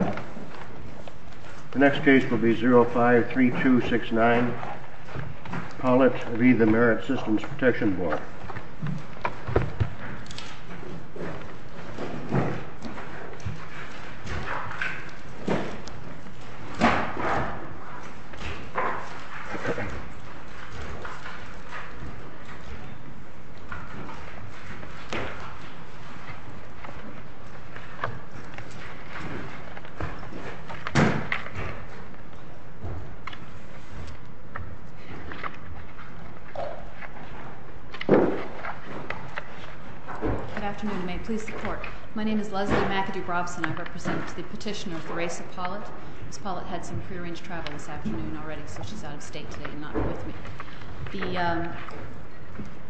The next case will be 05-3269, Pollitt v. the Merritt Systems Protection Board. Ms. Pollitt had some prearranged travel this afternoon already, so she's out of state today and not with me. The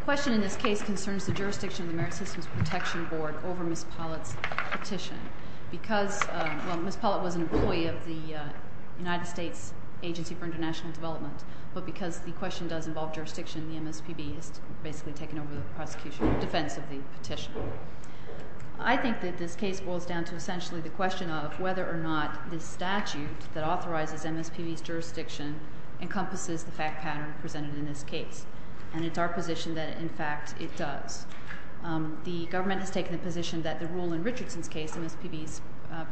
question in this case concerns the jurisdiction of the Merritt Systems Protection Board over Ms. Pollitt's petition. Ms. Pollitt was an employee of the United States Agency for International Development, but because the question does involve jurisdiction, the MSPB has basically taken over the defense of the petition. I think that this case boils down to essentially the question of whether or not the statute that authorizes MSPB's jurisdiction encompasses the fact pattern presented in this case. And it's our position that, in fact, it does. The government has taken the position that the rule in Richardson's case, MSPB's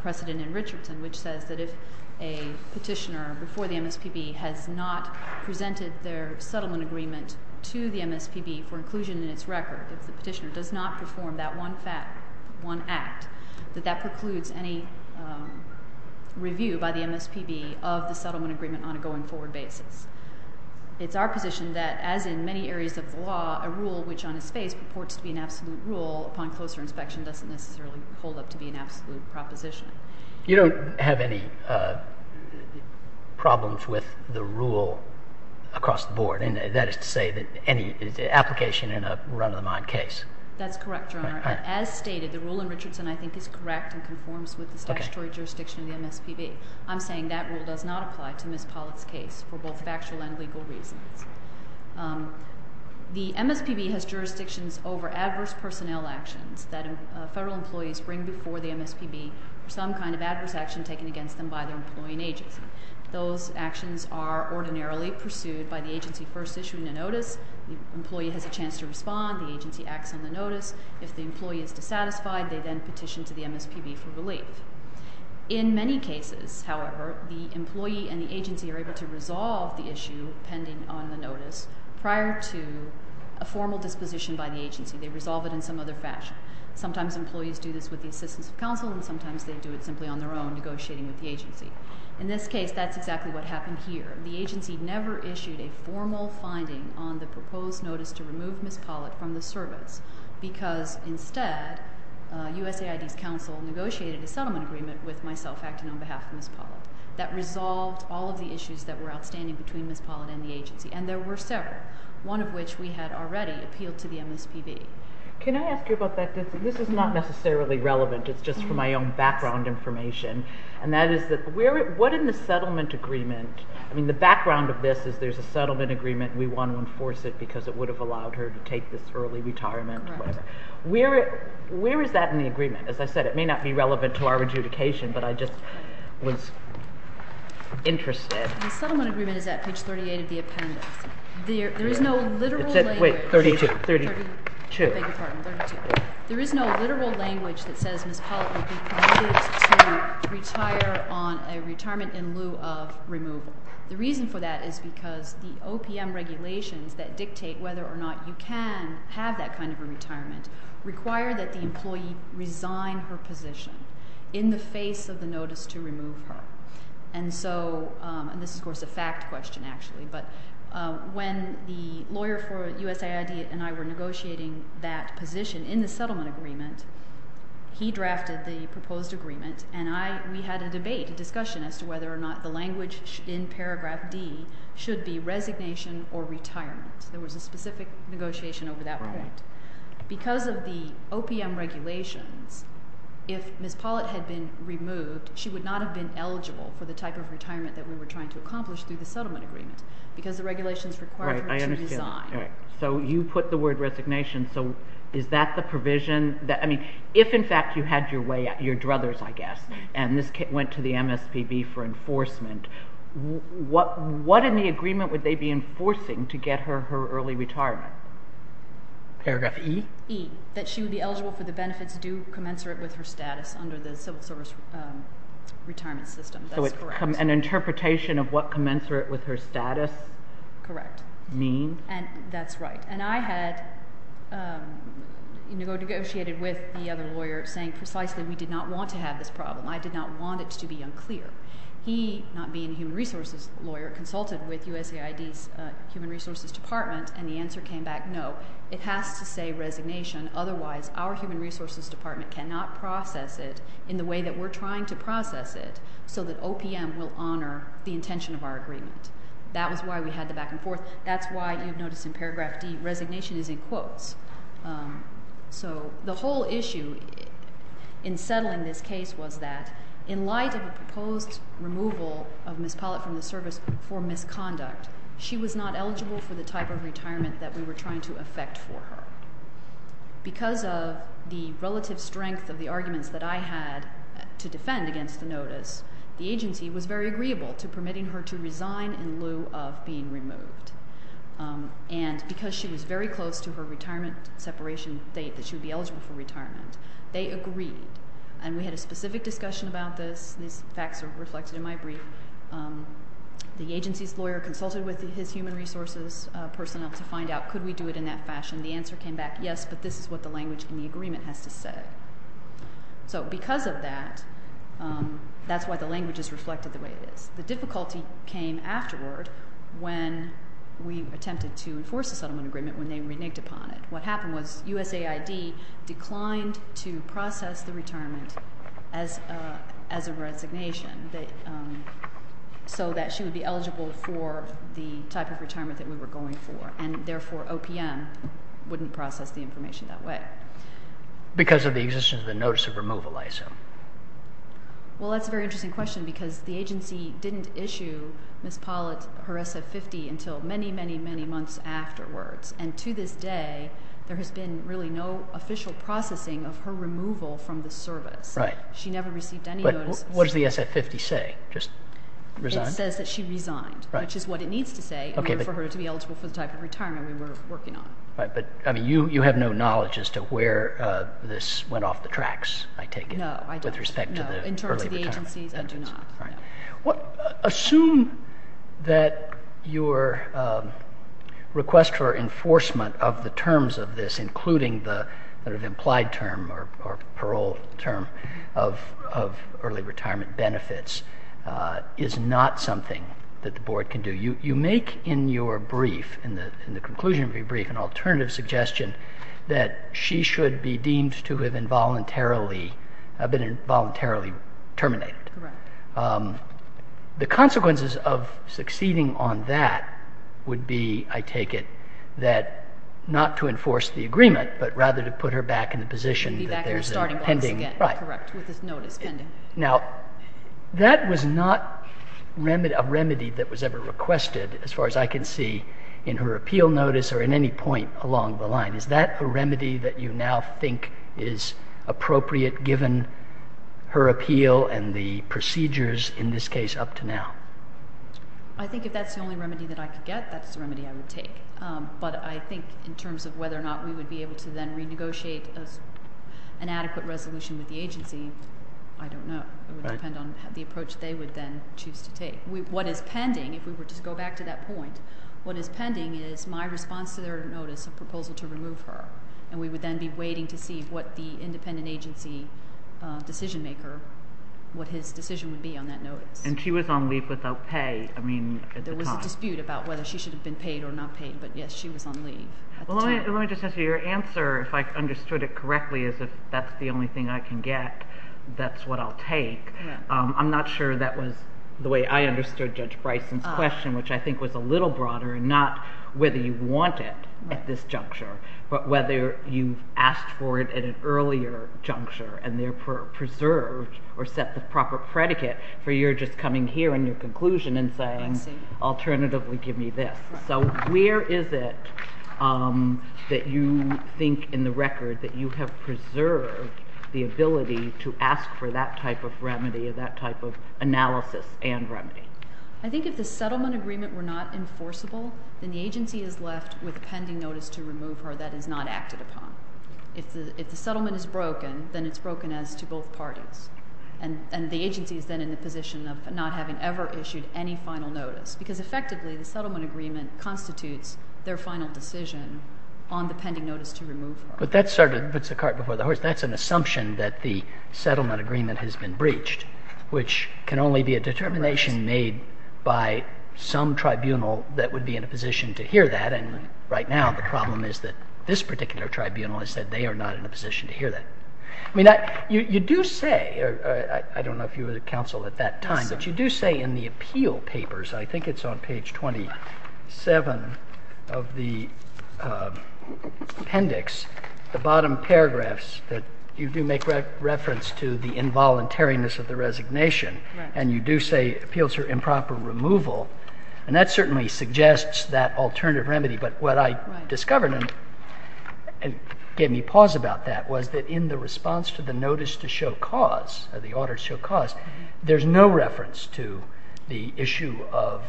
precedent in Richardson, which says that if a petitioner before the MSPB has not presented their settlement agreement to the MSPB for inclusion in its record, if the petitioner does not perform that one act, that that precludes any review by the MSPB of the settlement agreement on a going-forward basis. It's our position that, as in many areas of the law, a rule which on its face purports to be an absolute rule upon closer inspection doesn't necessarily hold up to be an absolute proposition. You don't have any problems with the rule across the board? And that is to say that any application in a run-of-the-mind case? That's correct, Your Honor. As stated, the rule in Richardson, I think, is correct and conforms with the statutory jurisdiction of the MSPB. I'm saying that rule does not apply to Ms. Pollack's case for both factual and legal reasons. The MSPB has jurisdictions over adverse personnel actions that federal employees bring before the MSPB or some kind of adverse action taken against them by their employee and agency. Those actions are ordinarily pursued by the agency first issuing a notice. The employee has a chance to respond. The agency acts on the notice. If the employee is dissatisfied, they then petition to the MSPB for relief. In many cases, however, the employee and the agency are able to resolve the issue pending on the notice prior to a formal disposition by the agency. They resolve it in some other fashion. Sometimes employees do this with the assistance of counsel and sometimes they do it simply on their own negotiating with the agency. In this case, that's exactly what happened here. The agency never issued a formal finding on the proposed notice to remove Ms. Pollack from the service because instead USAID's counsel negotiated a settlement agreement with myself acting on behalf of Ms. Pollack that resolved all of the issues that were outstanding between Ms. Pollack and the agency. And there were several, one of which we had already appealed to the MSPB. Can I ask you about that? This is not necessarily relevant. It's just for my own background information. And that is that what in the settlement agreement, I mean the background of this is there's a Where is that in the agreement? As I said, it may not be relevant to our adjudication, but I just was interested. The settlement agreement is at page 38 of the appendix. There is no literal language. Wait, 32. 32. I beg your pardon. 32. There is no literal language that says Ms. Pollack would be permitted to retire on a retirement in lieu of removal. The reason for that is because the OPM regulations that dictate whether or not you can have that kind of a retirement require that the employee resign her position in the face of the notice to remove her. And so, and this is of course a fact question actually, but when the lawyer for USAID and I were negotiating that position in the settlement agreement, he drafted the proposed agreement and I, we had a debate, a discussion as to whether or not the language in paragraph D should be resignation or retirement. There was a specific negotiation over that point. Because of the OPM regulations, if Ms. Pollack had been removed, she would not have been eligible for the type of retirement that we were trying to accomplish through the settlement agreement because the regulations required her to resign. Right, I understand. So you put the word resignation, so is that the provision that, I mean, if in fact you had your way, your druthers, I guess, and this went to the MSPB for enforcement, what in the agreement would they be enforcing to get her her early retirement? Paragraph E? E, that she would be eligible for the benefits due commensurate with her status under the civil service retirement system. That's correct. So it's an interpretation of what commensurate with her status? Correct. Mean? And that's right. And I had negotiated with the other lawyer saying precisely we did not want to have this problem. I did not want it to be unclear. He, not being a human resources lawyer, consulted with USAID's human resources department, and the answer came back no. It has to say resignation, otherwise our human resources department cannot process it in the way that we're trying to process it so that OPM will honor the intention of our agreement. That was why we had the back and forth. That's why you've noticed in paragraph D, resignation is in quotes. So the whole issue in settling this case was that in light of a proposed removal of Ms. Pollitt from the service for misconduct, she was not eligible for the type of retirement that we were trying to effect for her. Because of the relative strength of the arguments that I had to defend against the notice, the And because she was very close to her retirement separation date that she would be eligible for retirement, they agreed. And we had a specific discussion about this. These facts are reflected in my brief. The agency's lawyer consulted with his human resources personnel to find out could we do it in that fashion. The answer came back yes, but this is what the language in the agreement has to say. So because of that, that's why the language is reflected the way it is. The difficulty came afterward when we attempted to enforce the settlement agreement when they reneged upon it. What happened was USAID declined to process the retirement as a resignation so that she would be eligible for the type of retirement that we were going for. And therefore, OPM wouldn't process the information that way. Because of the existence of the notice of removal, I assume. Well, that's a very interesting question because the agency didn't issue Ms. Pollitt her SF50 until many, many, many months afterwards. And to this day, there has been really no official processing of her removal from the service. Right. She never received any notices. But what does the SF50 say? It says that she resigned, which is what it needs to say in order for her to be eligible for the type of retirement we were working on. Right. But you have no knowledge as to where this went off the tracks, I take it. No, I don't. With respect to the early retirement benefits. No. In terms of the agencies, I do not. Right. Assume that your request for enforcement of the terms of this, including the implied term or parole term of early retirement benefits, is not something that the Board can do. You make in your brief, in the conclusion of your brief, an alternative suggestion that she should be deemed to have been involuntarily terminated. Correct. The consequences of succeeding on that would be, I take it, that not to enforce the agreement but rather to put her back in the position that there's a pending. Be back in the starting blocks again. Right. Correct. With this notice pending. Now, that was not a remedy that was ever requested, as far as I can see, in her appeal notice or in any point along the line. Is that a remedy that you now think is appropriate given her appeal and the procedures, in this case, up to now? I think if that's the only remedy that I could get, that's the remedy I would take. But I think in terms of whether or not we would be able to then renegotiate an adequate resolution with the agency, I don't know. Right. It would depend on the approach they would then choose to take. What is pending, if we were to go back to that point, what is pending is my response to their notice of proposal to remove her. And we would then be waiting to see what the independent agency decision maker, what his decision would be on that notice. And she was on leave without pay, I mean, at the time. There was a dispute about whether she should have been paid or not paid, but yes, she was on leave at the time. Well, let me just answer your answer, if I understood it correctly, as if that's the only thing I can get, that's what I'll take. I'm not sure that was the way I understood Judge Bryson's question, which I think was a little broader and not whether you want it at this juncture, but whether you've asked for it at an earlier juncture and therefore preserved or set the proper predicate for you're just coming here in your conclusion and saying, alternatively, give me this. So where is it that you think in the record that you have preserved the ability to ask for that type of remedy or that type of analysis and remedy? I think if the settlement agreement were not enforceable, then the agency is left with a pending notice to remove her that is not acted upon. If the settlement is broken, then it's broken as to both parties. And the agency is then in the position of not having ever issued any final notice, because effectively, the settlement agreement constitutes their final decision on the pending notice to remove her. But that sort of puts the cart before the horse. That's an assumption that the settlement agreement has been breached, which can only be a determination made by some tribunal that would be in a position to hear that. And right now, the problem is that this particular tribunal has said they are not in a position to hear that. I mean, you do say, I don't know if you were the counsel at that time, but you do say in the appeal papers, I think it's on page 27 of the appendix, the bottom paragraphs that you do make reference to the involuntariness of the resignation. And you do say appeals for improper removal. And that certainly suggests that alternative remedy. But what I discovered, and it gave me pause about that, was that in the response to the notice to show cause, the order to show cause, there's no reference to the issue of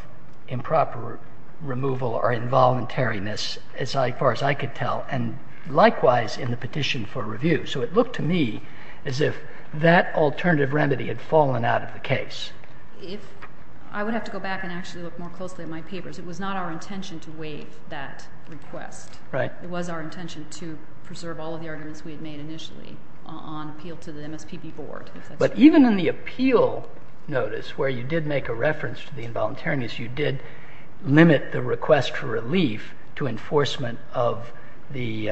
improper removal or involuntariness as far as I could tell. And likewise, in the petition for review. So it looked to me as if that alternative remedy had fallen out of the case. I would have to go back and actually look more closely at my papers. It was not our intention to waive that request. Right. It was our intention to preserve all of the arguments we had made initially on appeal to the MSPP board. But even in the appeal notice, where you did make a reference to the involuntariness, you did limit the request for relief to enforcement of the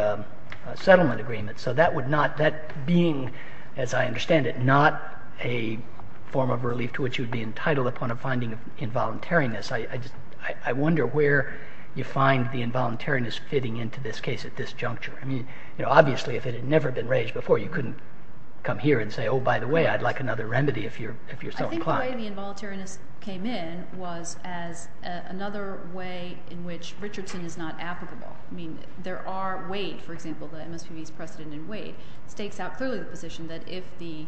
settlement agreement. So that being, as I understand it, not a form of relief to which you'd be entitled upon a finding of involuntariness, I wonder where you find the involuntariness fitting into this case at this juncture. Obviously, if it had never been raised before, you couldn't come here and say, oh, by the way, I'd like another remedy if you're so inclined. I think the way the involuntariness came in was as another way in which Richardson is not applicable. I mean, there are weight, for example, the MSPB's precedent in weight, stakes out clearly the position that if the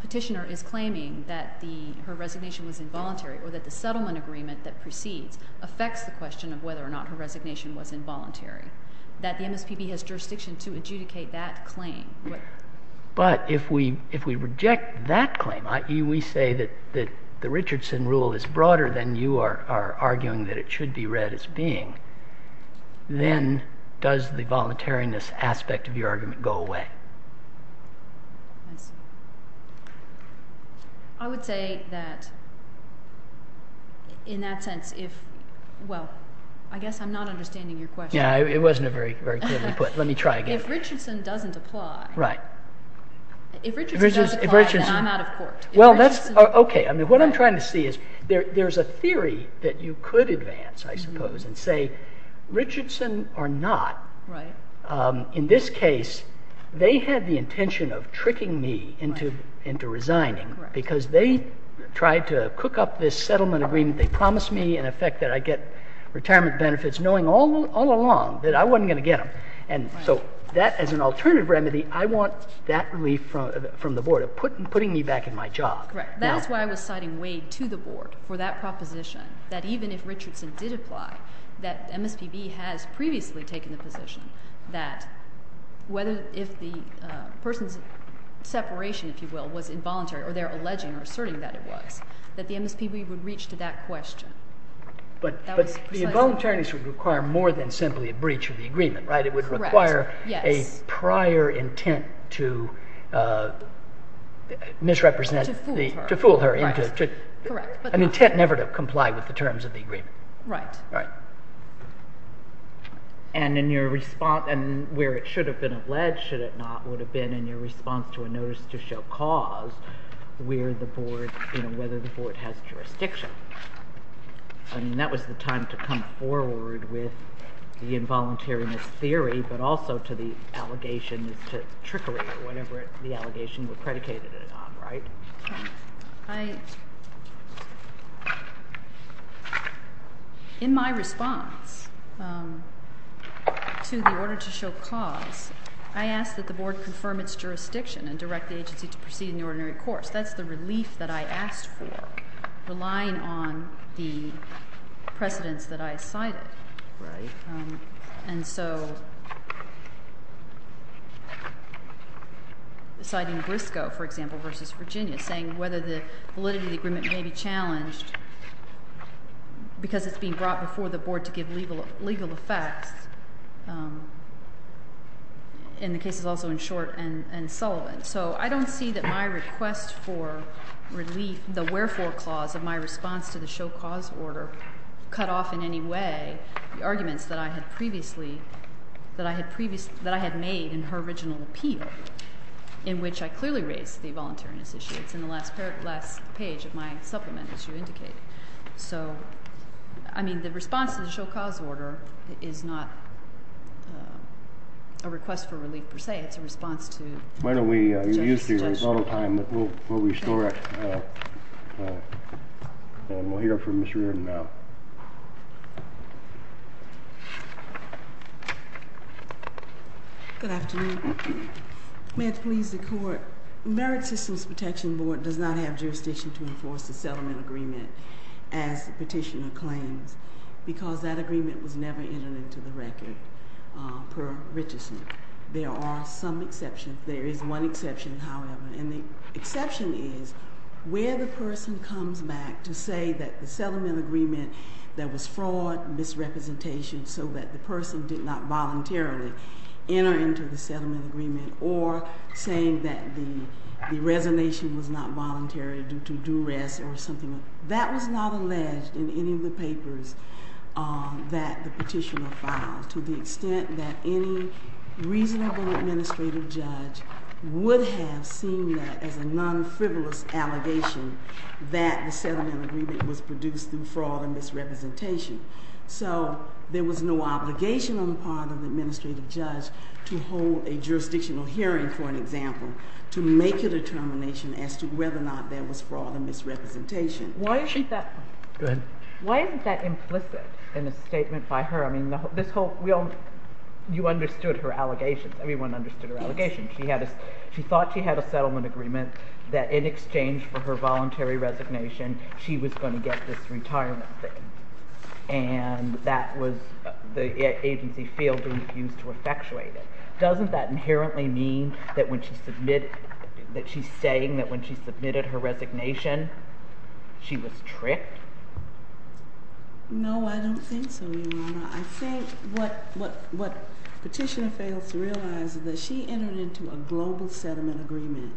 petitioner is claiming that her resignation was involuntary or that the settlement agreement that precedes affects the question of whether or not her resignation was involuntary, that the MSPB has jurisdiction to adjudicate that claim. But if we reject that claim, i.e., we say that the Richardson rule is broader than you are arguing that it should be read as being, then does the voluntariness aspect of your argument go away? I would say that in that sense, if, well, I guess I'm not understanding your question. Yeah, it wasn't a very clearly put. Let me try again. If Richardson doesn't apply. Right. If Richardson doesn't apply, then I'm out of court. Well, that's OK. I mean, what I'm trying to see is there's a theory that you could advance, I suppose, and say Richardson or not, in this case, they had the intention of tricking me into resigning because they tried to cook up this settlement agreement. They promised me, in effect, that I'd get retirement benefits, knowing all along that I wasn't going to get them. And so that, as an alternative remedy, I want that relief from the board of putting me back in my job. Correct. That's why I was citing Wade to the board for that proposition, that even if Richardson did apply, that MSPB has previously taken the position that if the person's separation, if you will, was involuntary, or they're alleging or asserting that it was, that the MSPB would reach to that question. But the involuntariness would require more than simply a breach of the agreement, right? Correct. Yes. A prior intent to misrepresent the- To fool her. To fool her into- Correct. An intent never to comply with the terms of the agreement. Right. Right. And in your response, and where it should have been alleged, should it not, would have been in your response to a notice to show cause, where the board, you know, whether the board has jurisdiction. I mean, that was the time to come forward with the involuntariness theory, but also to the allegation to trickery or whatever the allegation would predicate it on, right? Okay. I... In my response to the order to show cause, I asked that the board confirm its jurisdiction and direct the agency to proceed in the ordinary course. That's the relief that I asked for, relying on the precedence that I cited. Right. And so, citing Briscoe, for example, versus Virginia, saying whether the validity of the agreement may be challenged because it's being brought before the board to give legal effects, in the cases also in Short and Sullivan. So, I don't see that my request for relief, the wherefore clause of my response to the show cause order cut off in any way the arguments that I had previously... that I had made in her original appeal, in which I clearly raised the involuntariness issue. It's in the last page of my supplement, as you indicated. So, I mean, the response to the show cause order is not a request for relief per se. It's a response to... Why don't we use the rebuttal time? We'll restore it, and we'll hear from Ms. Reardon now. Good afternoon. May it please the court, the Merit Systems Protection Board does not have jurisdiction to enforce the settlement agreement as the petitioner claims, because that agreement was never entered into the record per Richeson. There are some exceptions. There is one exception, however, and the exception is where the person comes back to say that the settlement agreement, there was fraud, misrepresentation, so that the person did not voluntarily enter into the settlement agreement, or saying that the resignation was not voluntary due to duress or something. That was not alleged in any of the papers that the petitioner filed. To the extent that any reasonable administrative judge would have seen that as a non-frivolous allegation, that the settlement agreement was produced through fraud and misrepresentation. So, there was no obligation on the part of the administrative judge to hold a jurisdictional hearing, for an example, to make a determination as to whether or not there was fraud and misrepresentation. Why is that... Go ahead. You understood her allegation. Everyone understood her allegation. She thought she had a settlement agreement that in exchange for her voluntary resignation, she was going to get this retirement thing, and that was the agency field being used to effectuate it. Doesn't that inherently mean that when she submitted, that she's saying that when she submitted her resignation, she was tricked? No, I don't think so, Your Honor. I think what petitioner fails to realize is that she entered into a global settlement agreement.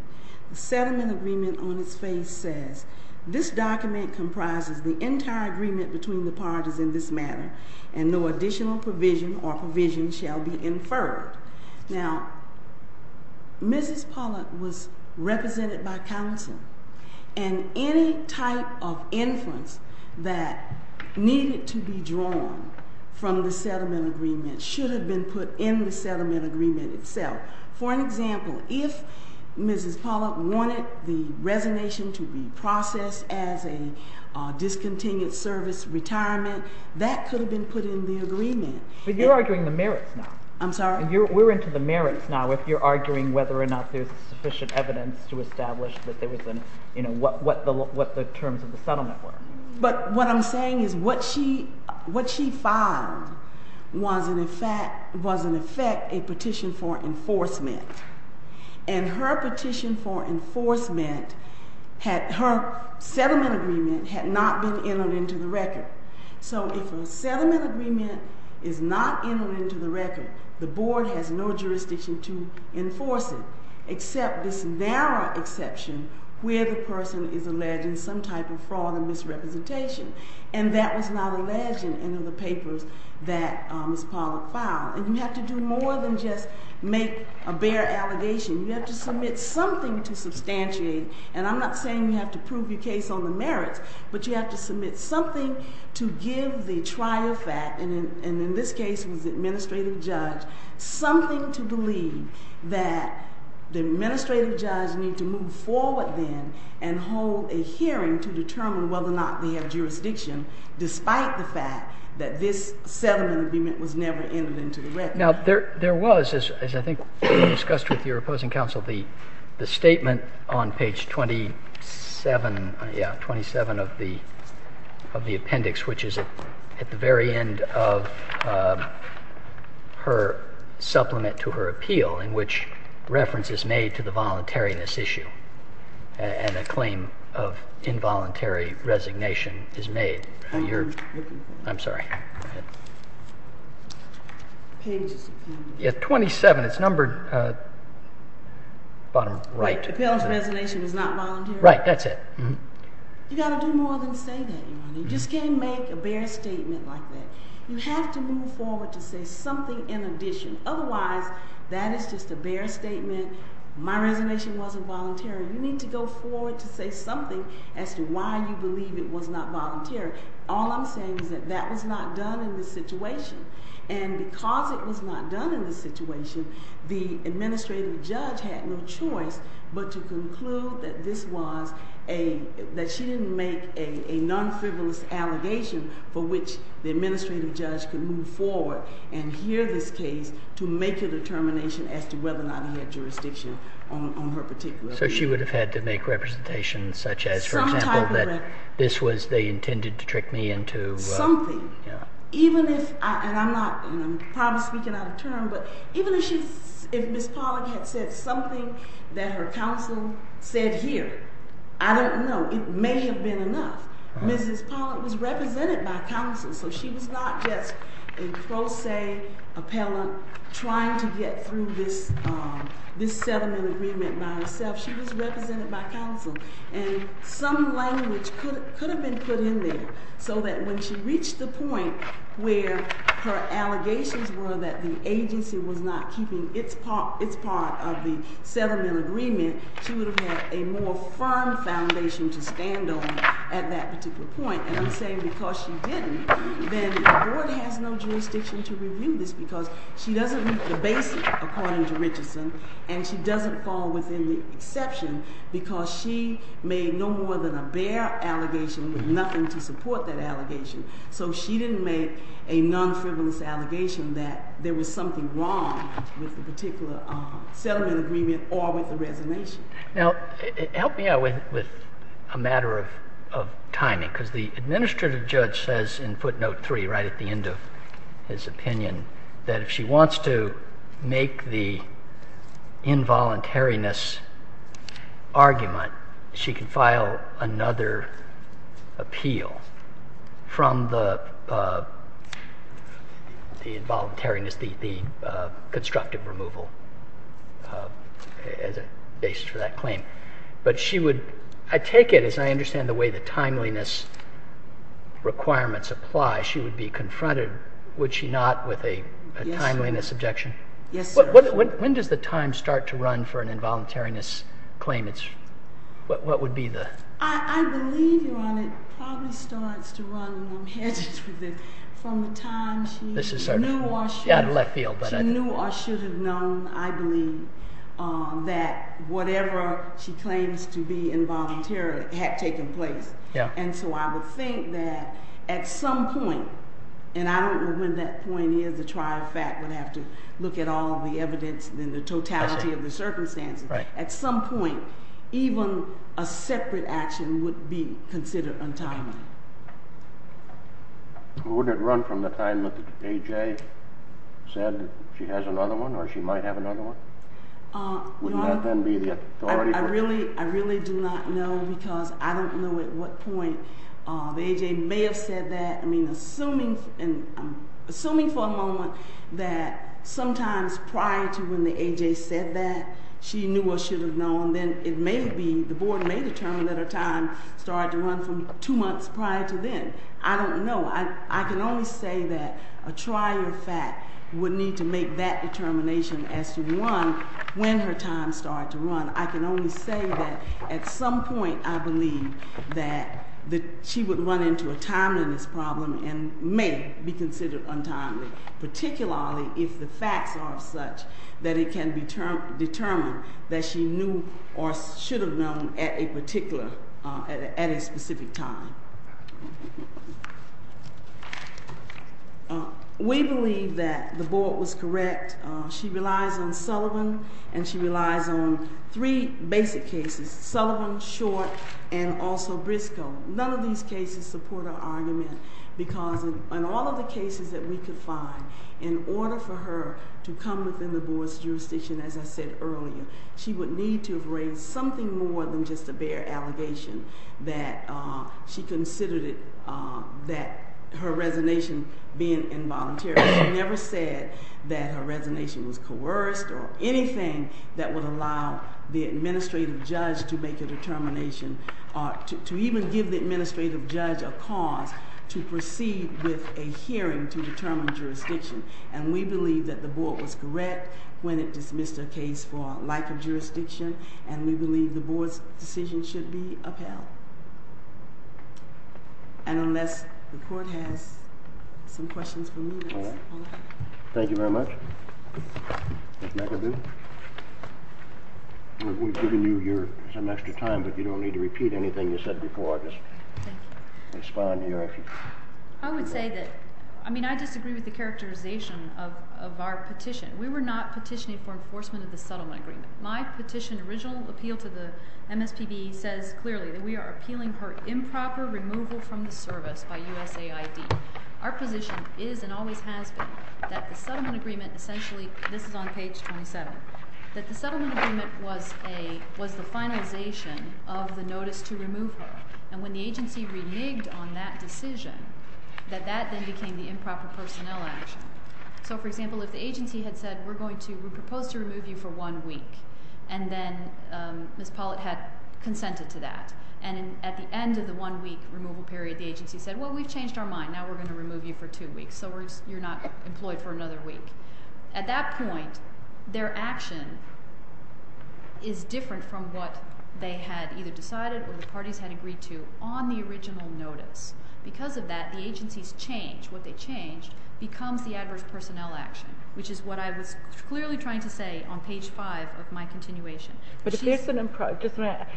The settlement agreement on its face says, this document comprises the entire agreement between the parties in this matter, and no additional provision or provision shall be inferred. Now, Mrs. Pollack was represented by counsel, and any type of inference that needed to be drawn from the settlement agreement should have been put in the settlement agreement itself. For an example, if Mrs. Pollack wanted the resignation to be processed as a discontinued service retirement, that could have been put in the agreement. But you're arguing the merits now. I'm sorry? We're into the merits now, if you're arguing whether or not there's sufficient evidence to establish what the terms of the settlement were. But what I'm saying is what she filed was, in effect, a petition for enforcement. And her petition for enforcement, her settlement agreement, had not been entered into the record. So if a settlement agreement is not entered into the record, the board has no jurisdiction to enforce it, except this narrow exception where the person is alleged in some type of fraud and misrepresentation. And that was not alleged in any of the papers that Mrs. Pollack filed. And you have to do more than just make a bare allegation. You have to submit something to substantiate. And I'm not saying you have to prove your case on the merits, but you have to submit something to give the trial fact, and in this case it was the administrative judge, something to believe that the administrative judge need to move forward then and hold a hearing to determine whether or not they have jurisdiction, despite the fact that this settlement agreement was never entered into the record. Now, there was, as I think you discussed with your opposing counsel, the statement on page 27 of the appendix, which is at the very end of her supplement to her appeal, in which reference is made to the voluntariness issue, and a claim of involuntary resignation is made. I'm sorry. Page 27. It's numbered bottom right. Right. That's it. You've got to do more than say that. You just can't make a bare statement like that. You have to move forward to say something in addition. Otherwise, that is just a bare statement. My resignation wasn't voluntary. You need to go forward to say something as to why you believe it was not voluntary. All I'm saying is that that was not done in this situation. And because it was not done in this situation, the administrative judge had no choice but to conclude that she didn't make a non-frivolous allegation for which the administrative judge could move forward and hear this case to make a determination as to whether or not he had jurisdiction on her particular appeal. So she would have had to make representations such as, for example, that this was they intended to trick me into? Something. Yeah. And I'm probably speaking out of turn, but even if Ms. Pollack had said something that her counsel said here, I don't know. It may have been enough. Mrs. Pollack was represented by counsel. So she was not just a pro se appellant trying to get through this settlement agreement by herself. She was represented by counsel. And some language could have been put in there so that when she reached the point where her allegations were that the agency was not keeping its part of the settlement agreement, she would have had a more firm foundation to stand on at that particular point. And I'm saying because she didn't, then the court has no jurisdiction to review this because she doesn't meet the basic, according to Richardson, and she doesn't fall within the exception because she made no more than a bare allegation with nothing to support that allegation. So she didn't make a non-frivolous allegation that there was something wrong with the particular settlement agreement or with the resignation. Now, help me out with a matter of timing because the administrative judge says in footnote three right at the end of his opinion that if she wants to make the involuntariness argument, she can file another appeal from the involuntariness, the constructive removal as a basis for that claim. But she would, I take it, as I understand the way the timeliness requirements apply, she would be confronted, would she not, with a timeliness objection? Yes, sir. When does the time start to run for an involuntariness claim? What would be the? I believe, Your Honor, it probably starts to run, and I'm hesitant, from the time she knew or should have known, I believe, that whatever she claims to be involuntary had taken place. Yeah. And so I would think that at some point, and I don't know when that point is, the trial fact would have to look at all of the evidence, then the totality of the circumstances. Right. At some point, even a separate action would be considered untimely. Well, wouldn't it run from the time that the AJ said she has another one, or she might have another one? Your Honor, I really do not know, because I don't know at what point the AJ may have said that. I mean, assuming for a moment that sometimes prior to when the AJ said that, she knew or should have known, then it may be, the board may determine that her time started to run from two months prior to then. I don't know. I can only say that a trial fact would need to make that determination as to when her time started to run. I can only say that at some point, I believe, that she would run into a timeliness problem and may be considered untimely, particularly if the facts are such that it can be determined that she knew or should have known at a particular, at a specific time. We believe that the board was correct. She relies on Sullivan, and she relies on three basic cases, Sullivan, Short, and also Briscoe. None of these cases support our argument, because in all of the cases that we could find, in order for her to come within the board's jurisdiction, as I said earlier, she would need to have raised something more than just a bare allegation that she considered it, that her resonation being involuntary. She never said that her resonation was coerced or anything that would allow the administrative judge to make a determination or to even give the administrative judge a cause to proceed with a hearing to determine jurisdiction. And we believe that the board was correct when it dismissed a case for lack of jurisdiction, and we believe the board's decision should be upheld. And unless the court has some questions for me, that's all I have. Thank you very much. Ms. McAdoo, we've given you some extra time, but you don't need to repeat anything you said before. I'll just respond here. I would say that, I mean, I disagree with the characterization of our petition. We were not petitioning for enforcement of the settlement agreement. My petition, original appeal to the MSPB, says clearly that we are appealing her improper removal from the service by USAID. Our position is and always has been that the settlement agreement essentially, this is on page 27, that the settlement agreement was the finalization of the notice to remove her. And when the agency reneged on that decision, that that then became the improper personnel action. So, for example, if the agency had said, we're going to, we propose to remove you for one week, and then Ms. Pollitt had consented to that. And at the end of the one week removal period, the agency said, well, we've changed our mind. Now we're going to remove you for two weeks. So you're not employed for another week. At that point, their action is different from what they had either decided or the parties had agreed to on the original notice. Because of that, the agency's change, what they changed, becomes the adverse personnel action, which is what I was clearly trying to say on page five of my continuation. But if there's an improper, just a minute,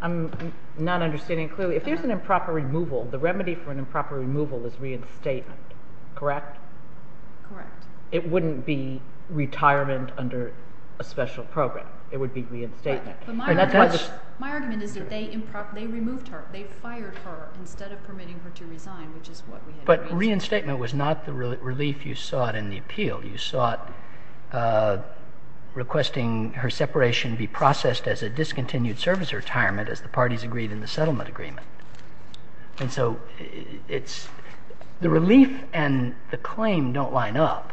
I'm not understanding clearly. If there's an improper removal, the remedy for an improper removal is reinstatement, correct? Correct. It wouldn't be retirement under a special program. It would be reinstatement. My argument is that they removed her. They fired her instead of permitting her to resign, which is what we had agreed to. But reinstatement was not the relief you sought in the appeal. You sought requesting her separation be processed as a discontinued service retirement, as the parties agreed in the settlement agreement. And so the relief and the claim don't line up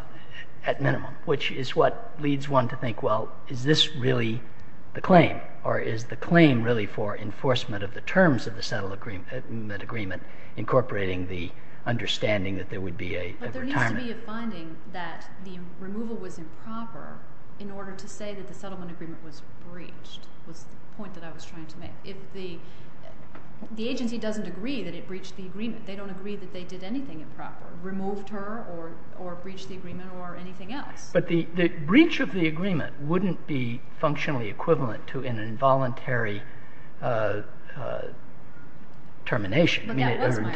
at minimum, which is what leads one to Is this really the claim? Or is the claim really for enforcement of the terms of the settlement agreement incorporating the understanding that there would be a retirement? But there needs to be a finding that the removal was improper in order to say that the settlement agreement was breached, was the point that I was trying to make. If the agency doesn't agree that it breached the agreement, they don't agree that they did anything improper, removed her or breached the agreement or anything else. But the breach of the agreement wouldn't be functionally equivalent to an involuntary termination or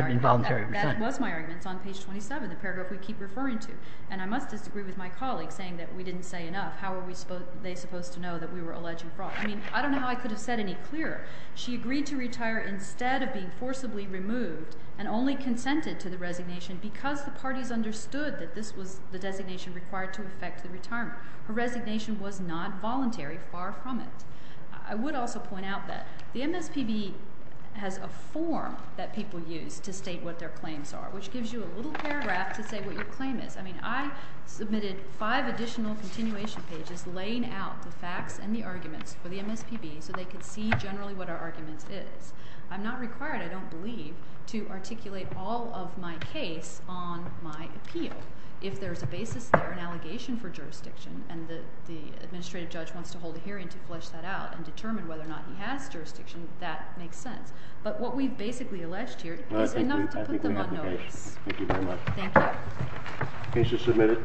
involuntary resignation. But that was my argument. That was my argument. It's on page 27, the paragraph we keep referring to. And I must disagree with my colleague saying that we didn't say enough. How were they supposed to know that we were alleging fraud? I mean, I don't know how I could have said any clearer. She agreed to retire instead of being forcibly removed and only consented to the resignation because the parties understood that this was the designation required to affect the retirement. Her resignation was not voluntary. Far from it. I would also point out that the MSPB has a form that people use to state what their claims are, which gives you a little paragraph to say what your claim is. I mean, I submitted five additional continuation pages laying out the facts and the arguments for the MSPB so they could see generally what our argument is. I'm not required, I don't believe, to articulate all of my case on my appeal. If there's a basis there, an allegation for jurisdiction, and the administrative judge wants to hold a hearing to flesh that out and determine whether or not he has jurisdiction, that makes sense. But what we've basically alleged here is enough to put them on notice. Thank you very much. Thank you. Case is submitted.